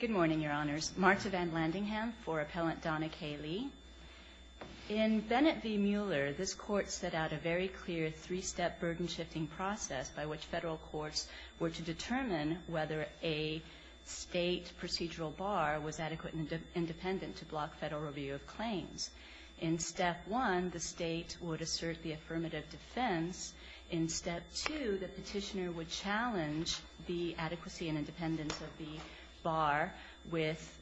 Good morning, Your Honors. Marta Van Landingham for Appellant Donna K. Lee. In Bennett v. Mueller, this Court set out a very clear three-step burden-shifting process by which federal courts were to determine whether a state procedural bar was adequate and independent to block federal review of claims. In Step 1, the state would assert the affirmative defense. In Step 2, the petitioner would challenge the adequacy and independence of the bar with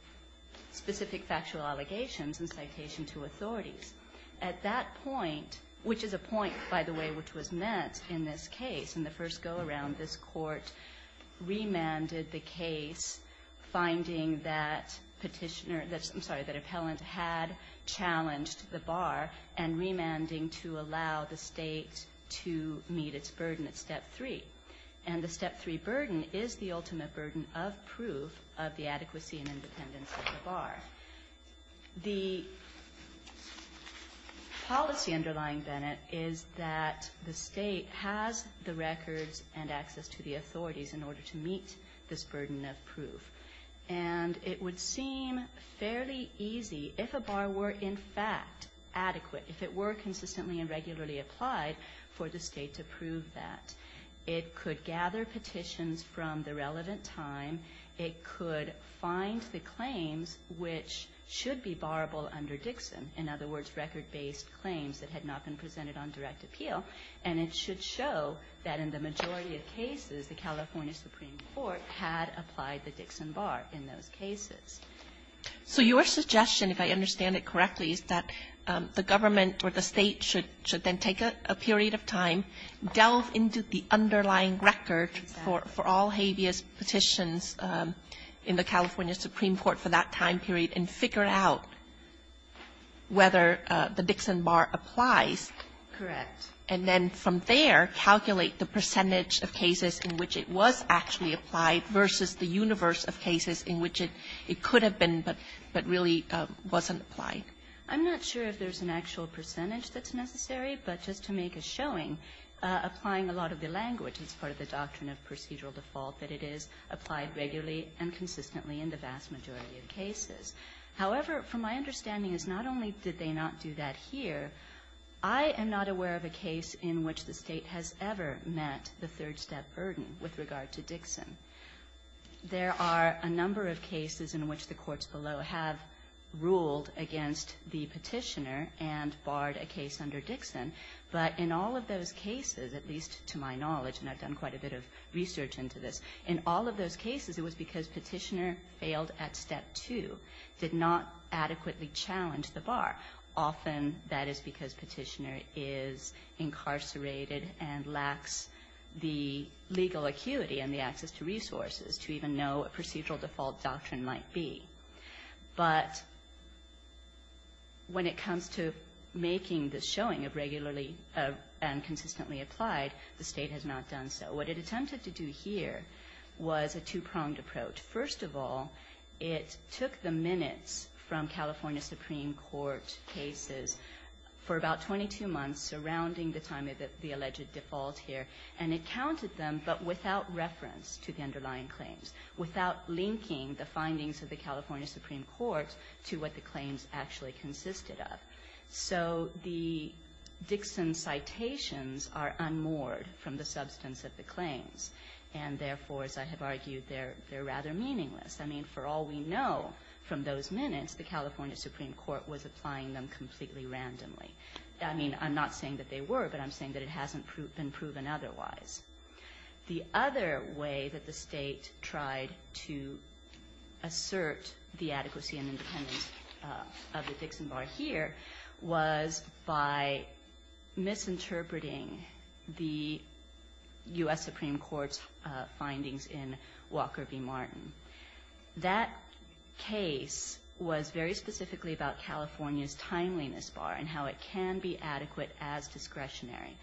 specific factual allegations and citation to authorities. At that point, which is a point, by the way, which was met in this case, in the first go-around, this Court remanded the case, finding that petitioner that's, I'm sorry, that appellant had challenged the bar, and remanding to allow the state to meet its burden at Step 3. And the Step 3 burden is the ultimate burden of proof of the adequacy and independence of the bar. The policy underlying Bennett is that the state has the records and access to the authorities in order to meet this burden of proof. And it would seem fairly easy, if a bar were in fact adequate, if it were consistently and regularly applied, for the state to prove that. It could gather petitions from the relevant time. It could find the claims which should be barrable under Dixon, in other words, record-based claims that had not been presented on direct appeal. And it should show that in the majority of cases, the California Supreme Court had applied the Dixon bar in those cases. Kagan. So your suggestion, if I understand it correctly, is that the government or the state should then take a period of time, delve into the underlying record for all habeas petitions in the California Supreme Court for that time period, and figure out whether the Dixon bar applies. Correct. And then from there, calculate the percentage of cases in which it was actually applied versus the universe of cases in which it could have been but really wasn't applied. I'm not sure if there's an actual percentage that's necessary, but just to make a showing, applying a lot of the language as part of the doctrine of procedural default, that it is applied regularly and consistently in the vast majority of cases. However, from my understanding is not only did they not do that here, I am not aware of a case in which the State has ever met the third-step burden with regard to Dixon. There are a number of cases in which the courts below have ruled against the Petitioner and barred a case under Dixon, but in all of those cases, at least to my knowledge and I've done quite a bit of research into this, in all of those cases it was because the State did not adequately challenge the bar. Often that is because Petitioner is incarcerated and lacks the legal acuity and the access to resources to even know what procedural default doctrine might be. But when it comes to making the showing of regularly and consistently applied, the State has not done so. What it attempted to do here was a two-pronged approach. First of all, it took the minutes from California Supreme Court cases for about 22 months surrounding the time of the alleged default here, and it counted them but without reference to the underlying claims, without linking the findings of the California Supreme Court to what the claims actually consisted of. So the Dixon citations are unmoored from the substance of the claims, and therefore, as I have argued, they're rather meaningless. I mean, for all we know from those minutes, the California Supreme Court was applying them completely randomly. I mean, I'm not saying that they were, but I'm saying that it hasn't been proven otherwise. The other way that the State tried to assert the adequacy and independence of the Dixon bar here was by misinterpreting the U.S. Supreme Court's findings in Walker v. Martin. That case was very specifically about California's timeliness bar and how it can be adequate as discretionary.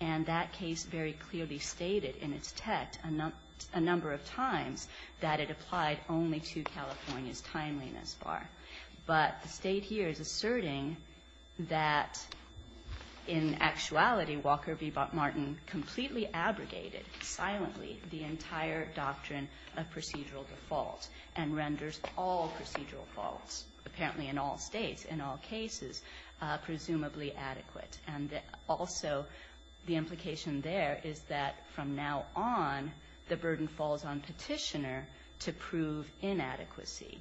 And that case very clearly stated in its text a number of times that it applied only to California's timeliness bar. But the State here is asserting that in actuality, Walker v. Martin completely abrogated silently the entire doctrine of procedural default and renders all procedural faults, apparently in all States, in all cases, presumably adequate. And also the implication there is that from now on, the burden falls on Petitioner to prove inadequacy.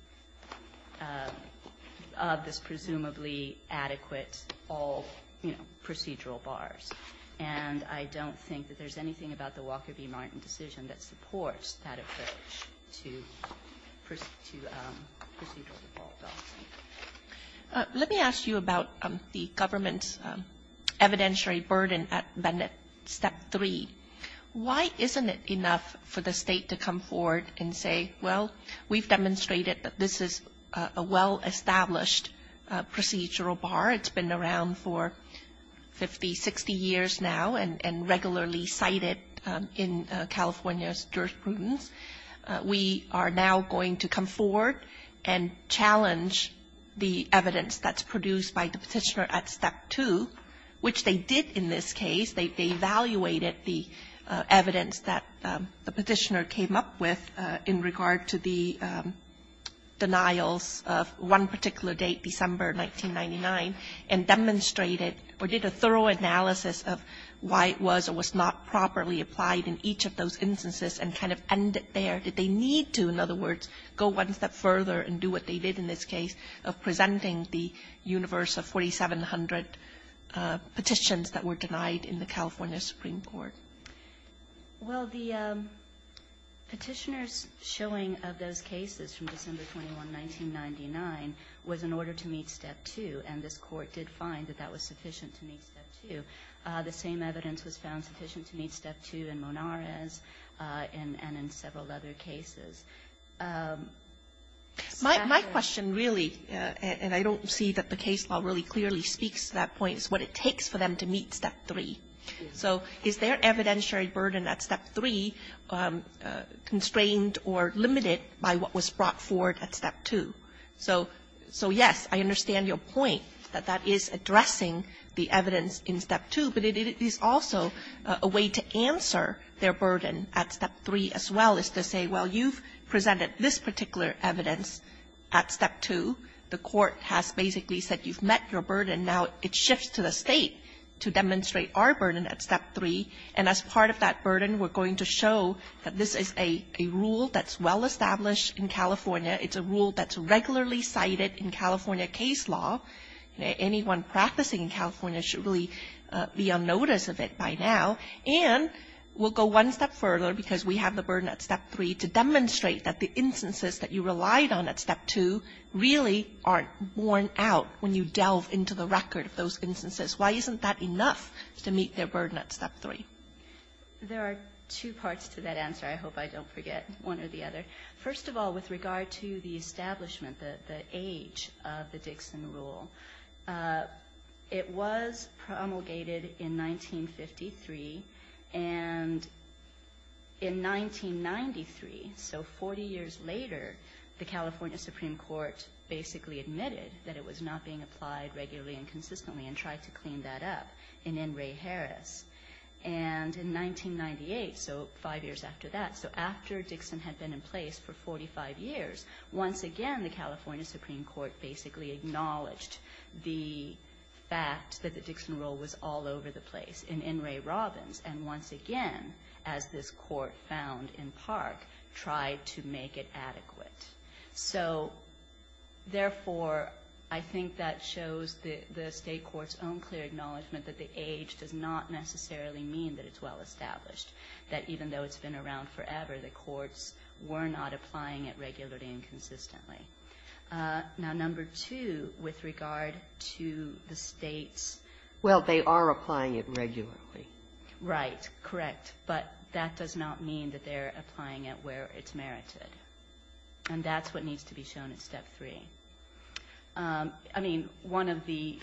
Of this presumably adequate all, you know, procedural bars. And I don't think that there's anything about the Walker v. Martin decision that supports that approach to procedural default. Kagan. Let me ask you about the government's evidentiary burden at Bennett, Step 3. Why isn't it enough for the State to come forward and say, well, we've demonstrated that this is a well-established procedural bar. It's been around for 50, 60 years now and regularly cited in California's jurisprudence. We are now going to come forward and challenge the evidence that's produced by the Petitioner at Step 2, which they did in this case. They evaluated the evidence that the Petitioner came up with in regard to the denials of one particular date, December 1999, and demonstrated or did a thorough analysis of why it was or was not properly applied in each of those instances and kind of ended there. Did they need to, in other words, go one step further and do what they did in this case, which was to deny the 1,500 petitions that were denied in the California Supreme Court? Well, the Petitioner's showing of those cases from December 21, 1999, was in order to meet Step 2, and this Court did find that that was sufficient to meet Step 2. The same evidence was found sufficient to meet Step 2 in Monarez and in several other cases. My question really, and I don't see that the case law really clearly speaks to that point, is what it takes for them to meet Step 3. So is their evidentiary burden at Step 3 constrained or limited by what was brought forward at Step 2? So yes, I understand your point that that is addressing the evidence in Step 2, but it is also a way to answer their burden at Step 3 as well as to say, well, you've presented this particular evidence at Step 2. The Court has basically said you've met your burden. Now it shifts to the State to demonstrate our burden at Step 3. And as part of that burden, we're going to show that this is a rule that's well established in California. It's a rule that's regularly cited in California case law. Anyone practicing in California should really be on notice of it by now. And we'll go one step further, because we have the burden at Step 3, to demonstrate that the instances that you relied on at Step 2 really aren't borne out when you delve into the record of those instances. Why isn't that enough to meet their burden at Step 3? There are two parts to that answer. I hope I don't forget one or the other. First of all, with regard to the establishment, the age of the Dixon rule, it was promulgated in 1953. And in 1993, so 40 years later, the California Supreme Court basically admitted that it was not being applied regularly and consistently and tried to clean that up in N. Ray Harris. And in 1998, so five years after that, so after Dixon had been in place for 45 years, once again, the California Supreme Court basically acknowledged the fact that the Dixon rule was all over the place in N. Ray Robbins, and once again, as this Court found in Park, tried to make it adequate. So, therefore, I think that shows the State court's own clear acknowledgment that the age does not necessarily mean that it's well established, that even though it's been around forever, the courts were not applying it regularly and consistently. Now, number two, with regard to the States. Sotomayor Well, they are applying it regularly. Kagan Right. Correct. But that does not mean that they're applying it where it's merited. And that's what needs to be shown in Step 3. I mean, one of the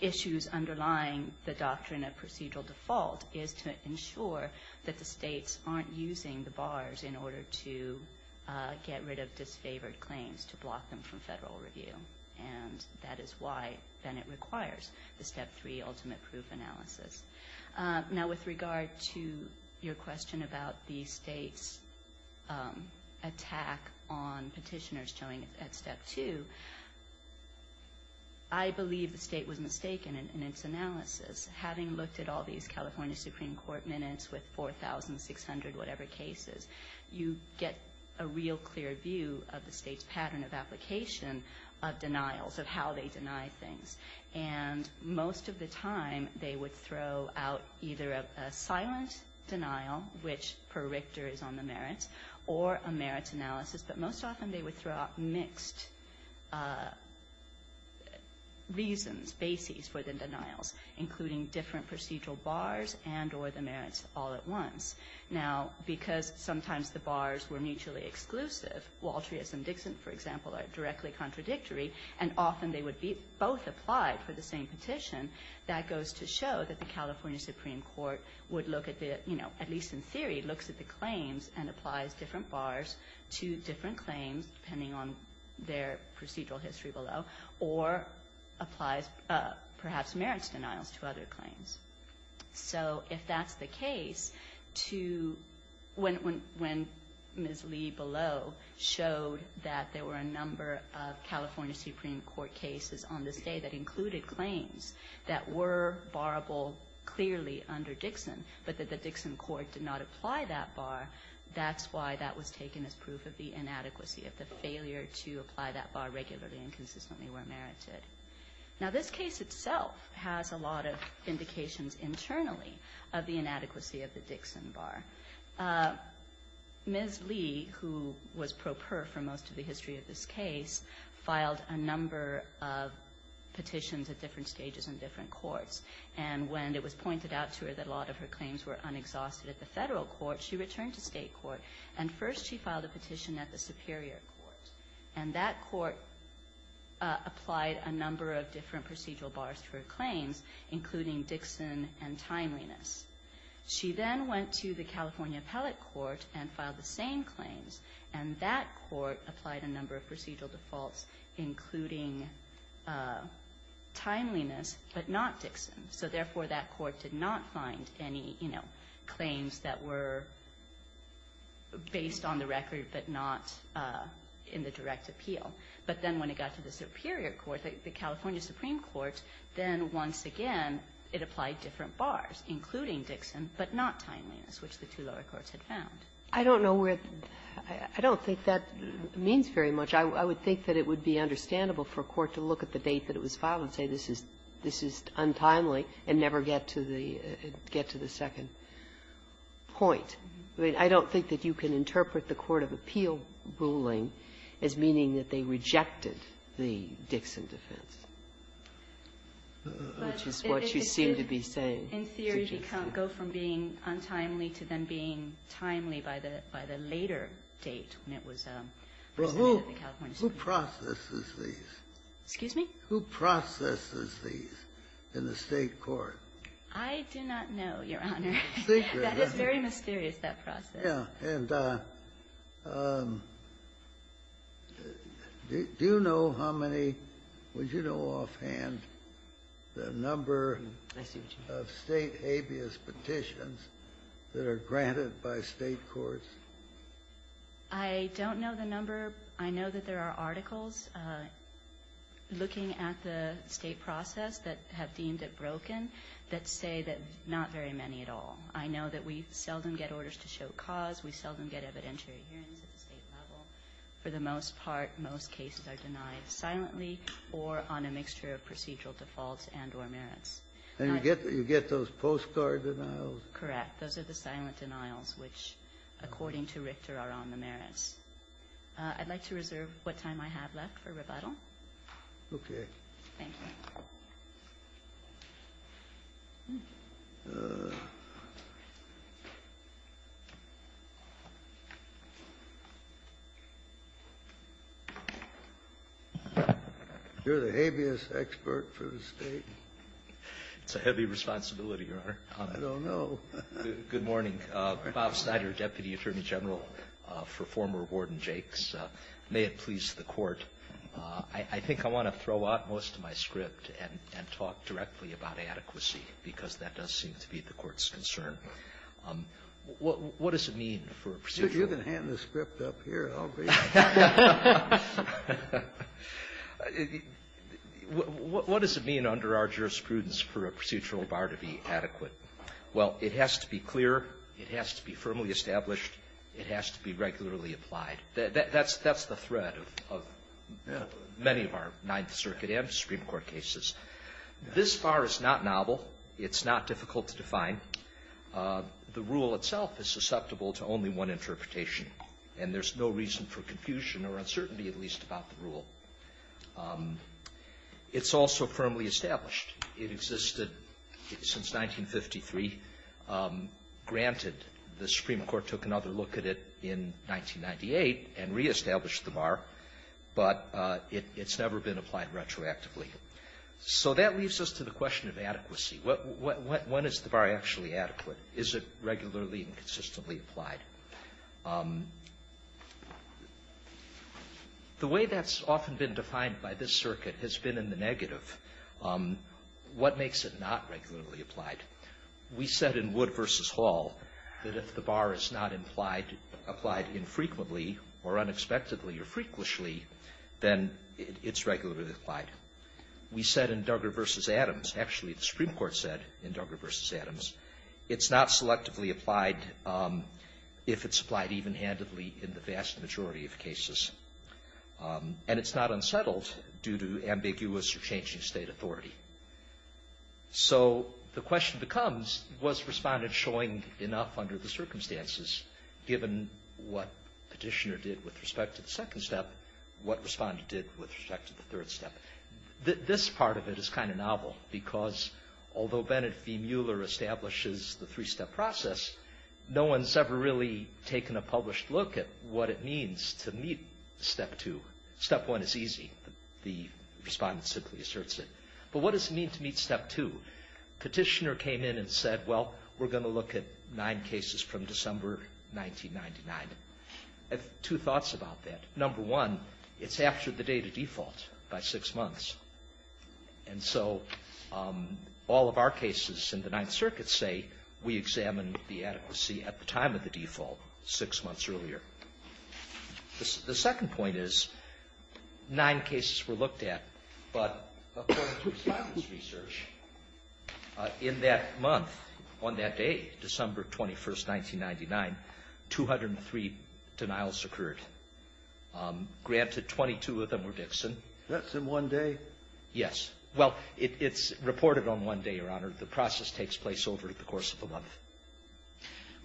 issues underlying the doctrine of procedural default is to ensure that the States aren't using the bars in order to get rid of disfavored claims, to block them from federal review. And that is why, then, it requires the Step 3 ultimate proof analysis. Now, with regard to your question about the States' attack on petitioners showing it at Step 2, I believe the State was mistaken in its analysis. Having looked at all these California Supreme Court minutes with 4,600 whatever cases, you get a real clear view of the State's pattern of application of denials, of how they deny things. And most of the time, they would throw out either a silent denial, which per Richter is on the merits, or a merits analysis. But most often, they would throw out mixed reasons, bases for the denials, including different procedural bars and or the merits all at once. Now, because sometimes the bars were mutually exclusive, Waltrius and Dixon, for example, are directly contradictory, and often they would be both applied for the same petition, that goes to show that the California Supreme Court would look at the, you know, different claims, depending on their procedural history below, or applies perhaps merits denials to other claims. So if that's the case, when Ms. Lee below showed that there were a number of California Supreme Court cases on this day that included claims that were barable clearly under Dixon, but that the Dixon court did not apply that bar, that's why that was taken as proof of the inadequacy, of the failure to apply that bar regularly and consistently where merited. Now, this case itself has a lot of indications internally of the inadequacy of the Dixon bar. Ms. Lee, who was pro per for most of the history of this case, filed a number of petitions at different stages in different courts. And when it was pointed out to her that a lot of her claims were unexhausted at the Federal Court, she returned to State Court, and first she filed a petition at the Superior Court. And that court applied a number of different procedural bars to her claims, including Dixon and timeliness. She then went to the California Appellate Court and filed the same claims. And that court applied a number of procedural defaults, including timeliness, but not Dixon. So therefore, that court did not find any, you know, claims that were based on the record but not in the direct appeal. But then when it got to the Superior Court, the California Supreme Court, then once again it applied different bars, including Dixon, but not timeliness, which the two lower courts had found. I don't know where the – I don't think that means very much. I would think that it would be understandable for a court to look at the date that it was filed and say this is – this is untimely and never get to the – get to the second point. I mean, I don't think that you can interpret the court of appeal ruling as meaning that they rejected the Dixon defense, which is what you seem to be saying. It's just that you can't go from being untimely to then being timely by the – by the later date when it was presented at the California Supreme Court. Kennedy, who processes these? Excuse me? Who processes these in the State court? I do not know, Your Honor. That is very mysterious, that process. Yeah. And do you know how many – would you know offhand the number of State habeas petitions that are granted by State courts? I don't know the number. I know that there are articles looking at the State process that have deemed it broken that say that not very many at all. I know that we seldom get orders to show cause. We seldom get evidentiary hearings at the State level. For the most part, most cases are denied silently or on a mixture of procedural defaults and or merits. And you get – you get those postcard denials? Correct. Those are the silent denials, which, according to Richter, are on the merits. I'd like to reserve what time I have left for rebuttal. Okay. Thank you. You're the habeas expert for the State. It's a heavy responsibility, Your Honor. I don't know. Good morning. Bob Snyder, Deputy Attorney General for former Warden Jakes. May it please the Court, I think I want to throw out most of my script and talk directly about adequacy, because that does seem to be the Court's concern. What does it mean for a procedural – You can hand the script up here, and I'll read it. What does it mean under our jurisprudence for a procedural bar to be adequate? Well, it has to be clear, it has to be firmly established, it has to be regularly applied. That's the thread of many of our Ninth Circuit and Supreme Court cases. This bar is not novel. It's not difficult to define. The rule itself is susceptible to only one interpretation. And there's no reason for confusion or uncertainty, at least, about the rule. It's also firmly established. It existed since 1953. Granted, the Supreme Court took another look at it in 1998 and reestablished the bar, but it's never been applied retroactively. So that leads us to the question of adequacy. When is the bar actually adequate? Is it regularly and consistently applied? The way that's often been defined by this circuit has been in the negative. What makes it not regularly applied? We said in Wood v. Hall that if the bar is not applied infrequently or unexpectedly or frequently, then it's regularly applied. We said in Duggar v. Adams – actually, the Supreme Court said in Duggar v. If it's applied even-handedly in the vast majority of cases. And it's not unsettled due to ambiguous or changing state authority. So the question becomes, was Respondent showing enough under the circumstances given what Petitioner did with respect to the second step, what Respondent did with respect to the third step? This part of it is kind of novel because although Bennet v. taken a published look at what it means to meet Step 2. Step 1 is easy. The Respondent simply asserts it. But what does it mean to meet Step 2? Petitioner came in and said, well, we're going to look at nine cases from December 1999. I have two thoughts about that. Number one, it's after the date of default by six months. And so all of our cases in the Ninth Circuit say we examine the adequacy at the time of the default, six months earlier. The second point is, nine cases were looked at. But according to science research, in that month, on that day, December 21, 1999, 203 denials occurred. Granted, 22 of them were Dixon. That's in one day? Yes. Well, it's reported on one day, Your Honor. The process takes place over the course of a month.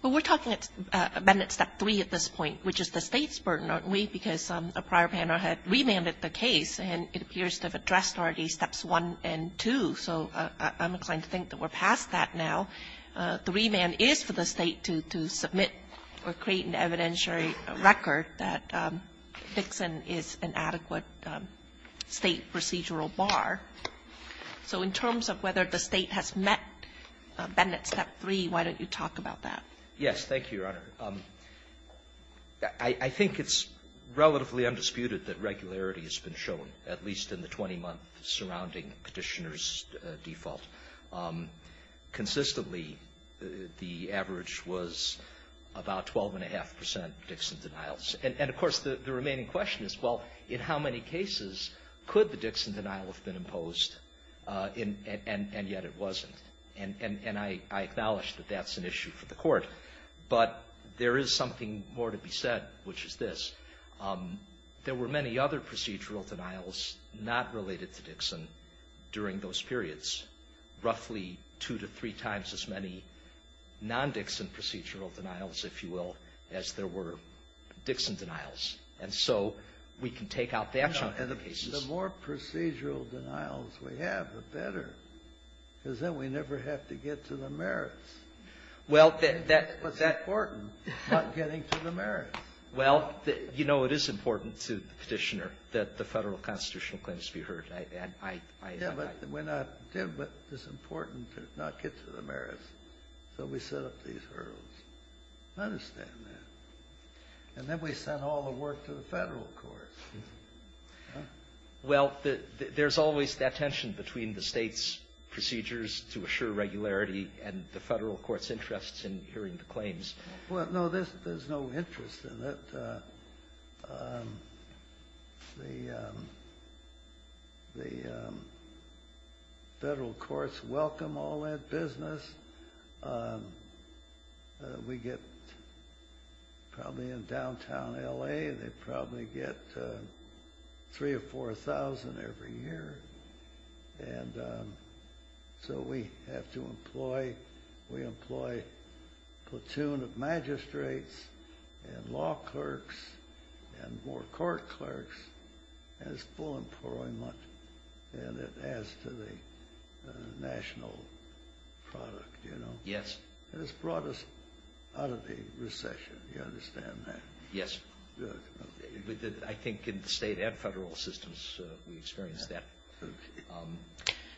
Well, we're talking about Step 3 at this point, which is the State's burden, aren't we? Because a prior panel had remanded the case, and it appears to have addressed already Steps 1 and 2. So I'm inclined to think that we're past that now. The remand is for the State to submit or create an evidentiary record that Dixon is an adequate State procedural bar. So in terms of whether the State has met Bennett's Step 3, why don't you talk about that? Thank you, Your Honor. I think it's relatively undisputed that regularity has been shown, at least in the 20-month surrounding Petitioner's default. Consistently, the average was about 12.5 percent Dixon denials. And, of course, the remaining question is, well, in how many cases could the Dixon denial have been imposed, and yet it wasn't? And I acknowledge that that's an issue for the Court. But there is something more to be said, which is this. There were many other procedural denials not related to Dixon during those periods, roughly two to three times as many non-Dixon procedural denials, if you will, as there were Dixon denials. And so we can take out that from other cases. The more procedural denials we have, the better, because then we never have to get to the merits. Well, that that It was important, not getting to the merits. Well, you know, it is important to the Petitioner that the Federal constitutional claims be heard. I, I, I Yeah, but we're not going to, but it's important to not get to the merits. So we set up these hurdles. I understand that. And then we sent all the work to the Federal courts. Well, there's always that tension between the State's procedures to assure regularity and the Federal courts' interests in hearing the claims. Well, no, there's no interest in it. The, the Federal courts welcome all that business. We get probably in downtown L.A., they probably get three or four thousand every year. And so we have to employ, we employ a platoon of magistrates and law clerks and more court clerks as full employment. And it adds to the national product, you know. Yes. And it's brought us out of the recession. You understand that? Yes. I think in the State and Federal systems, we experience that.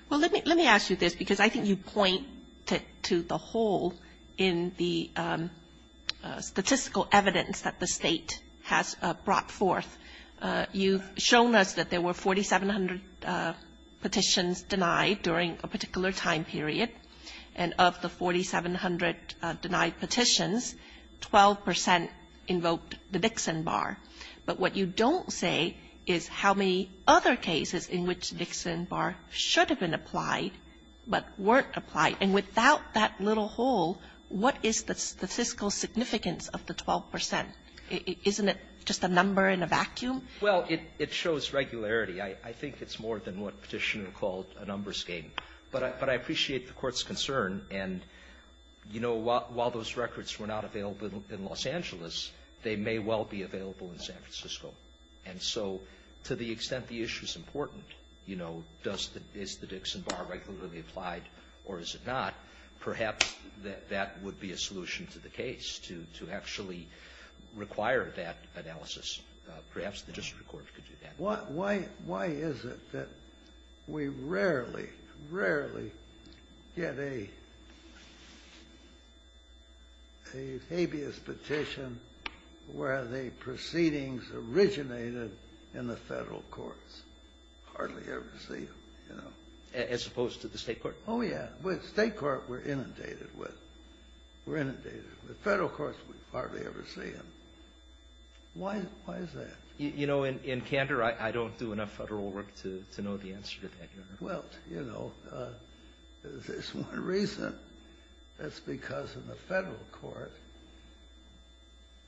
Well, let me, let me ask you this, because I think you point to the hole in the statistical evidence that the State has brought forth. You've shown us that there were 4,700 petitions denied during a particular time period, and of the 4,700 denied petitions, 12 percent invoked the Dixie Act. And you say, well, we should have applied for Nixon Bar, but what you don't say is how many other cases in which Nixon Bar should have been applied but weren't applied. And without that little hole, what is the statistical significance of the 12 percent? Isn't it just a number in a vacuum? Well, it, it shows regularity. I, I think it's more than what Petitioner called a numbers game, but I, but I appreciate the Court's concern. And, you know, while, while those records were not available in Los Angeles, they may well be available in San Francisco. And so, to the extent the issue's important, you know, does the, is the Dixon Bar regularly applied or is it not, perhaps that, that would be a solution to the case, to, to actually require that analysis. Perhaps the district court could do that. Why, why, why is it that we rarely, rarely get a, a habeas petition where the proceedings originated in the federal courts? Hardly ever see them, you know. As opposed to the state court? Oh, yeah. With state court, we're inundated with, we're inundated. With federal courts, we hardly ever see them. Why, why is that? You know, in, in Canada, I, I don't do enough federal work to, to know the answer to that, Your Honor. Well, you know, there's, there's one reason. That's because in the federal court,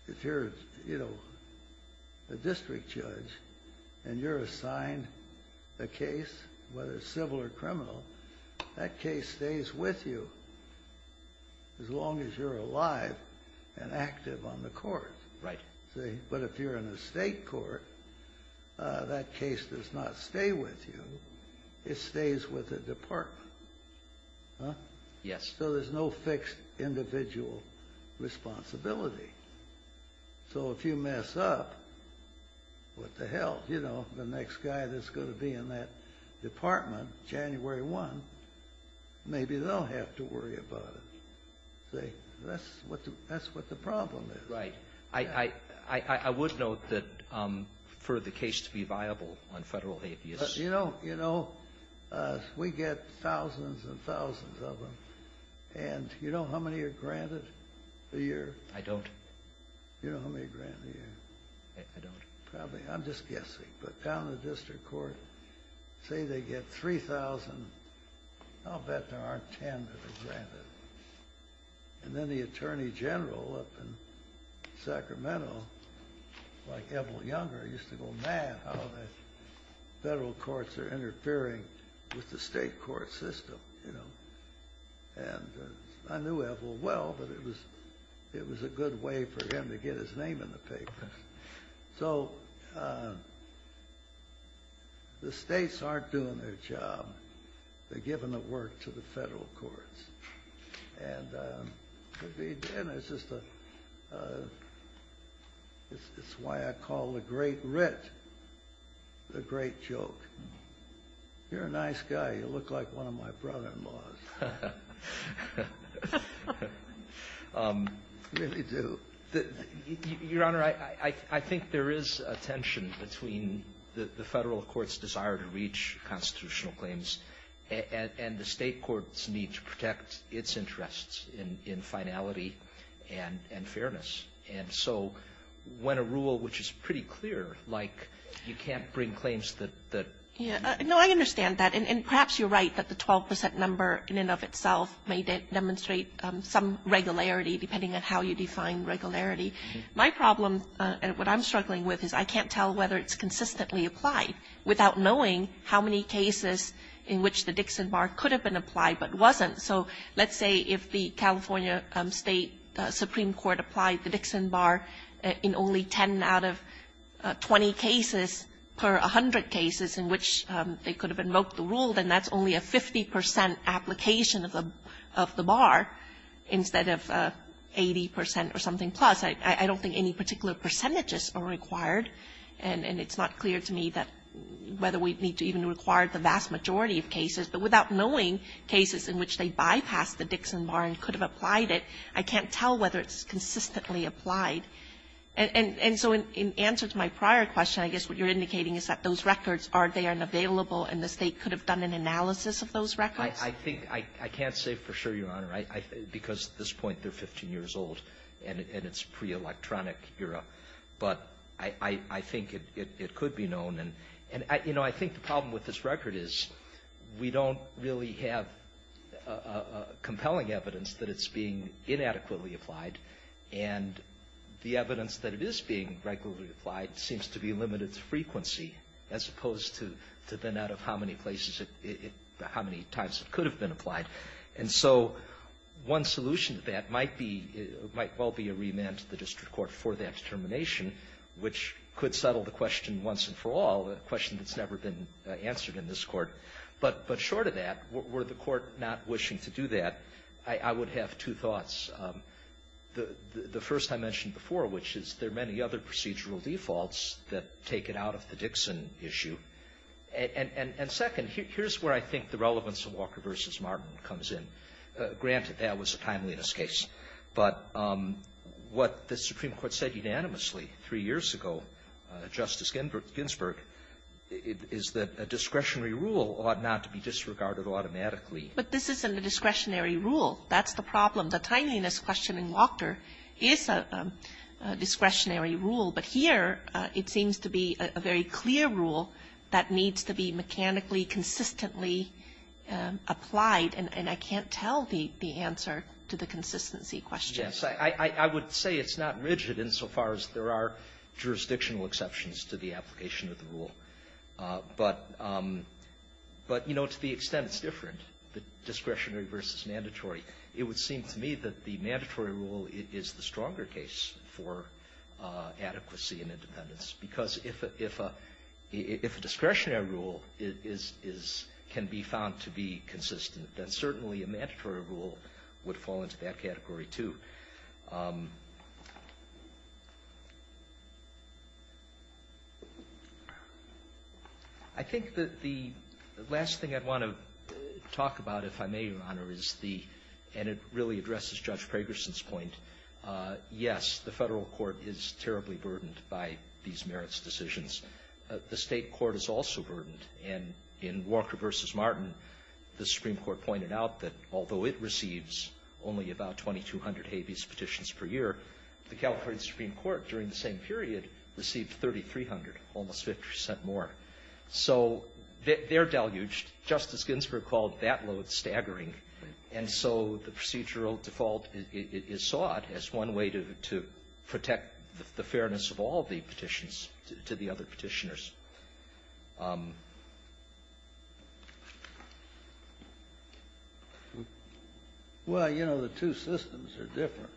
if you're, you know, a district judge and you're assigned a case, whether it's civil or criminal, that case stays with you as long as you're alive and active on the court. Right. See? But if you're in a state court, that case does not stay with you. It stays with the department. Huh? Yes. So there's no fixed individual responsibility. So if you mess up, what the hell? You know, the next guy that's going to be in that department, January 1, maybe they'll have to worry about it. See? That's what the, that's what the problem is. Right. I, I, I, I would note that for the case to be viable on federal habeas. You know, you know, we get thousands and thousands of them. And you know how many are granted a year? I don't. You know how many are granted a year? I, I don't. Probably. I'm just guessing. But down in the district court, say they get 3,000, I'll bet there aren't 10 that are granted. And then the attorney general up in Sacramento, like Evel Younger, used to go mad how the federal courts are interfering with the state court system. You know? And I knew Evel well, but it was, it was a good way for him to get his name in the papers. So the states aren't doing their job. They're giving the work to the federal courts. And it's just a, it's why I call the great writ the great joke. You're a nice guy. You look like one of my brother-in-laws. I really do. Your Honor, I think there is a tension between the federal court's desire to reach constitutional claims and the state court's need to protect its interests in finality and fairness. And so when a rule which is pretty clear, like you can't bring claims that. I understand that. And perhaps you're right that the 12 percent number in and of itself may demonstrate some regularity depending on how you define regularity. My problem, what I'm struggling with is I can't tell whether it's consistently applied without knowing how many cases in which the Dixon Bar could have been applied but wasn't. So let's say if the California State Supreme Court applied the Dixon Bar in only 10 out of 20 cases per 100 cases in which they could have invoked the rule, then that's only a 50 percent application of the bar instead of 80 percent or something plus. I don't think any particular percentages are required, and it's not clear to me that whether we need to even require the vast majority of cases. But without knowing cases in which they bypassed the Dixon Bar and could have applied it, I can't tell whether it's consistently applied. And so in answer to my prior question, I guess what you're indicating is that those records, are they unavailable and the State could have done an analysis of those records? I think I can't say for sure, Your Honor, because at this point they're 15 years old and it's pre-electronic era. But I think it could be known. And, you know, I think the problem with this record is we don't really have compelling evidence that it's being inadequately applied. And the evidence that it is being regularly applied seems to be limited to frequency as opposed to the net of how many places it – how many times it could have been applied. And so one solution to that might be – might well be a remand to the district court for that determination, which could settle the question once and for all, a question that's never been answered in this Court. But short of that, were the Court not wishing to do that, I would have two thoughts. The first I mentioned before, which is there are many other procedural defaults that take it out of the Dixon issue. And second, here's where I think the relevance of Walker v. Martin comes in. Granted, that was a timeliness case. But what the Supreme Court said unanimously three years ago, Justice Ginsburg, is that a discretionary rule ought not to be disregarded automatically. Kagan. But this isn't a discretionary rule. That's the problem. The timeliness question in Walker is a discretionary rule. But here it seems to be a very clear rule that needs to be mechanically consistently applied. And I can't tell the answer to the consistency question. Verrilli,, Yes. I would say it's not rigid insofar as there are jurisdictional exceptions to the application of the rule. But, you know, to the extent it's different, the discretionary versus mandatory, it would seem to me that the mandatory rule is the stronger case for adequacy and independence. Because if a discretionary rule can be found to be consistent, then certainly a mandatory rule would fall into that category, too. I think that the last thing I'd want to talk about, if I may, Your Honor, is the, and it really addresses Judge Pragerson's point, yes, the Federal court is terribly burdened by these merits decisions. The State court is also burdened. And in Walker v. Martin, the Supreme Court pointed out that although it receives only about 2,200 habeas petitions per year, the California Supreme Court during the same period received 3,300, almost 50 percent more. So they're deluged. Justice Ginsburg called that load staggering. And so the procedural default is sought as one way to protect the fairness of all the petitions to the other Petitioners. Well, you know, the two systems are different.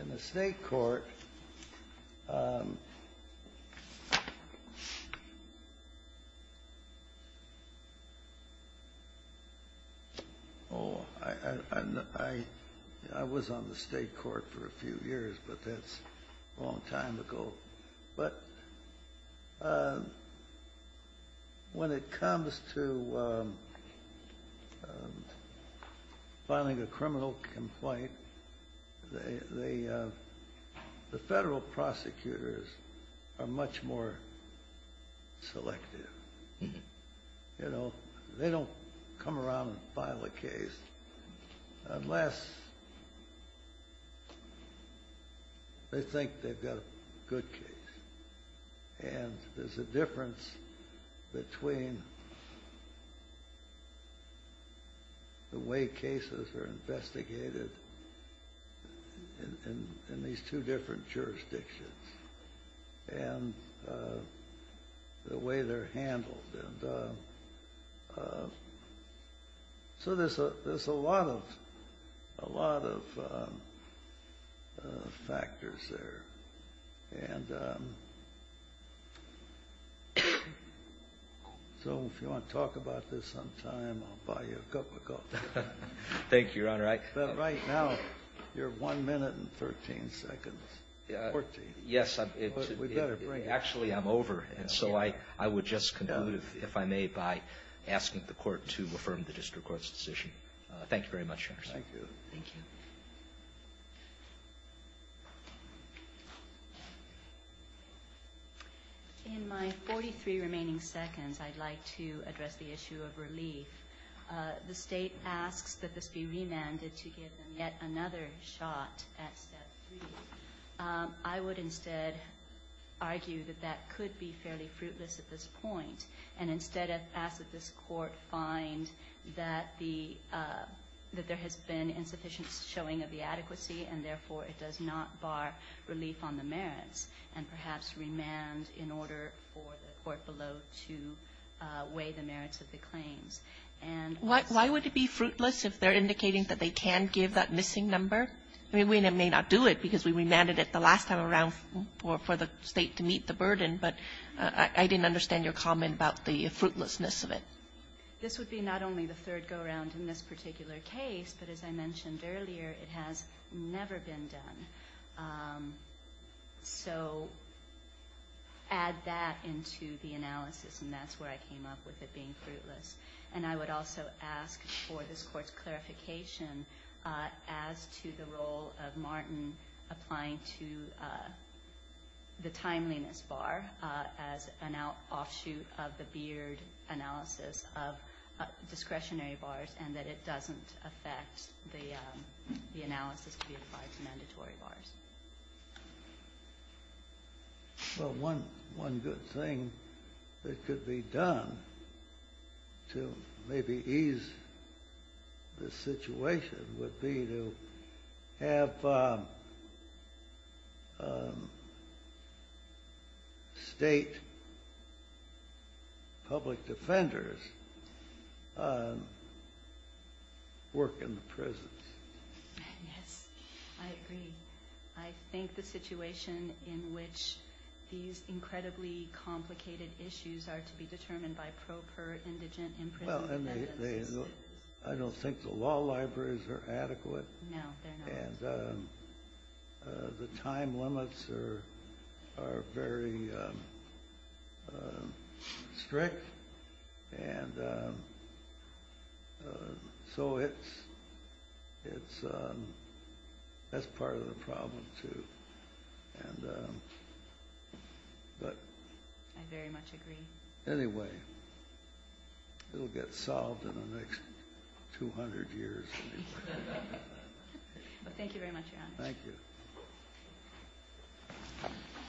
In the State court, oh, I was on the State court for a few years, but that's a long time ago. But when it comes to filing a criminal complaint, the Federal prosecutors are much more selective. You know, they don't come around and file a case unless they think they've got a good case. And there's a difference between the way cases are investigated in these two different jurisdictions and the way they're handled. And so there's a lot of factors there. And so if you want to talk about this sometime, I'll buy you a cup of coffee. Thank you, Your Honor. Thank you, Your Honor. In my 43 remaining seconds, I'd like to address the issue of relief. The State asks that this be remanded to give them yet another shot at Step 3. I would instead argue that that could be fairly fruitless at this point and instead ask that this Court find that there has been insufficient showing of the adequacy and therefore it does not bar relief on the merits and perhaps remand in order for the Court below to weigh the merits of the claims. And why would it be fruitless if they're indicating that they can give that missing number? I mean, we may not do it because we remanded it the last time around for the State to meet the burden, but I didn't understand your comment about the fruitlessness of it. This would be not only the third go-around in this particular case, but as I mentioned earlier, it has never been done. So add that into the analysis, and that's where I came up with it being fruitless. And I would also ask for this Court's clarification as to the role of Martin applying to the timeliness bar as an offshoot of the Beard analysis of discretionary bars and that it doesn't affect the analysis to be applied to mandatory bars. Well, one good thing that could be done to maybe ease the situation would be to have State public defenders work in the prisons. Yes, I agree. I think the situation in which these incredibly complicated issues are to be determined by pro per indigent in prison... Well, I don't think the law libraries are adequate. No, they're not. And the time limits are very strict, and so that's part of the problem, too. I very much agree. Anyway, it'll get solved in the next 200 years. Well, thank you very much, Your Honor. Thank you.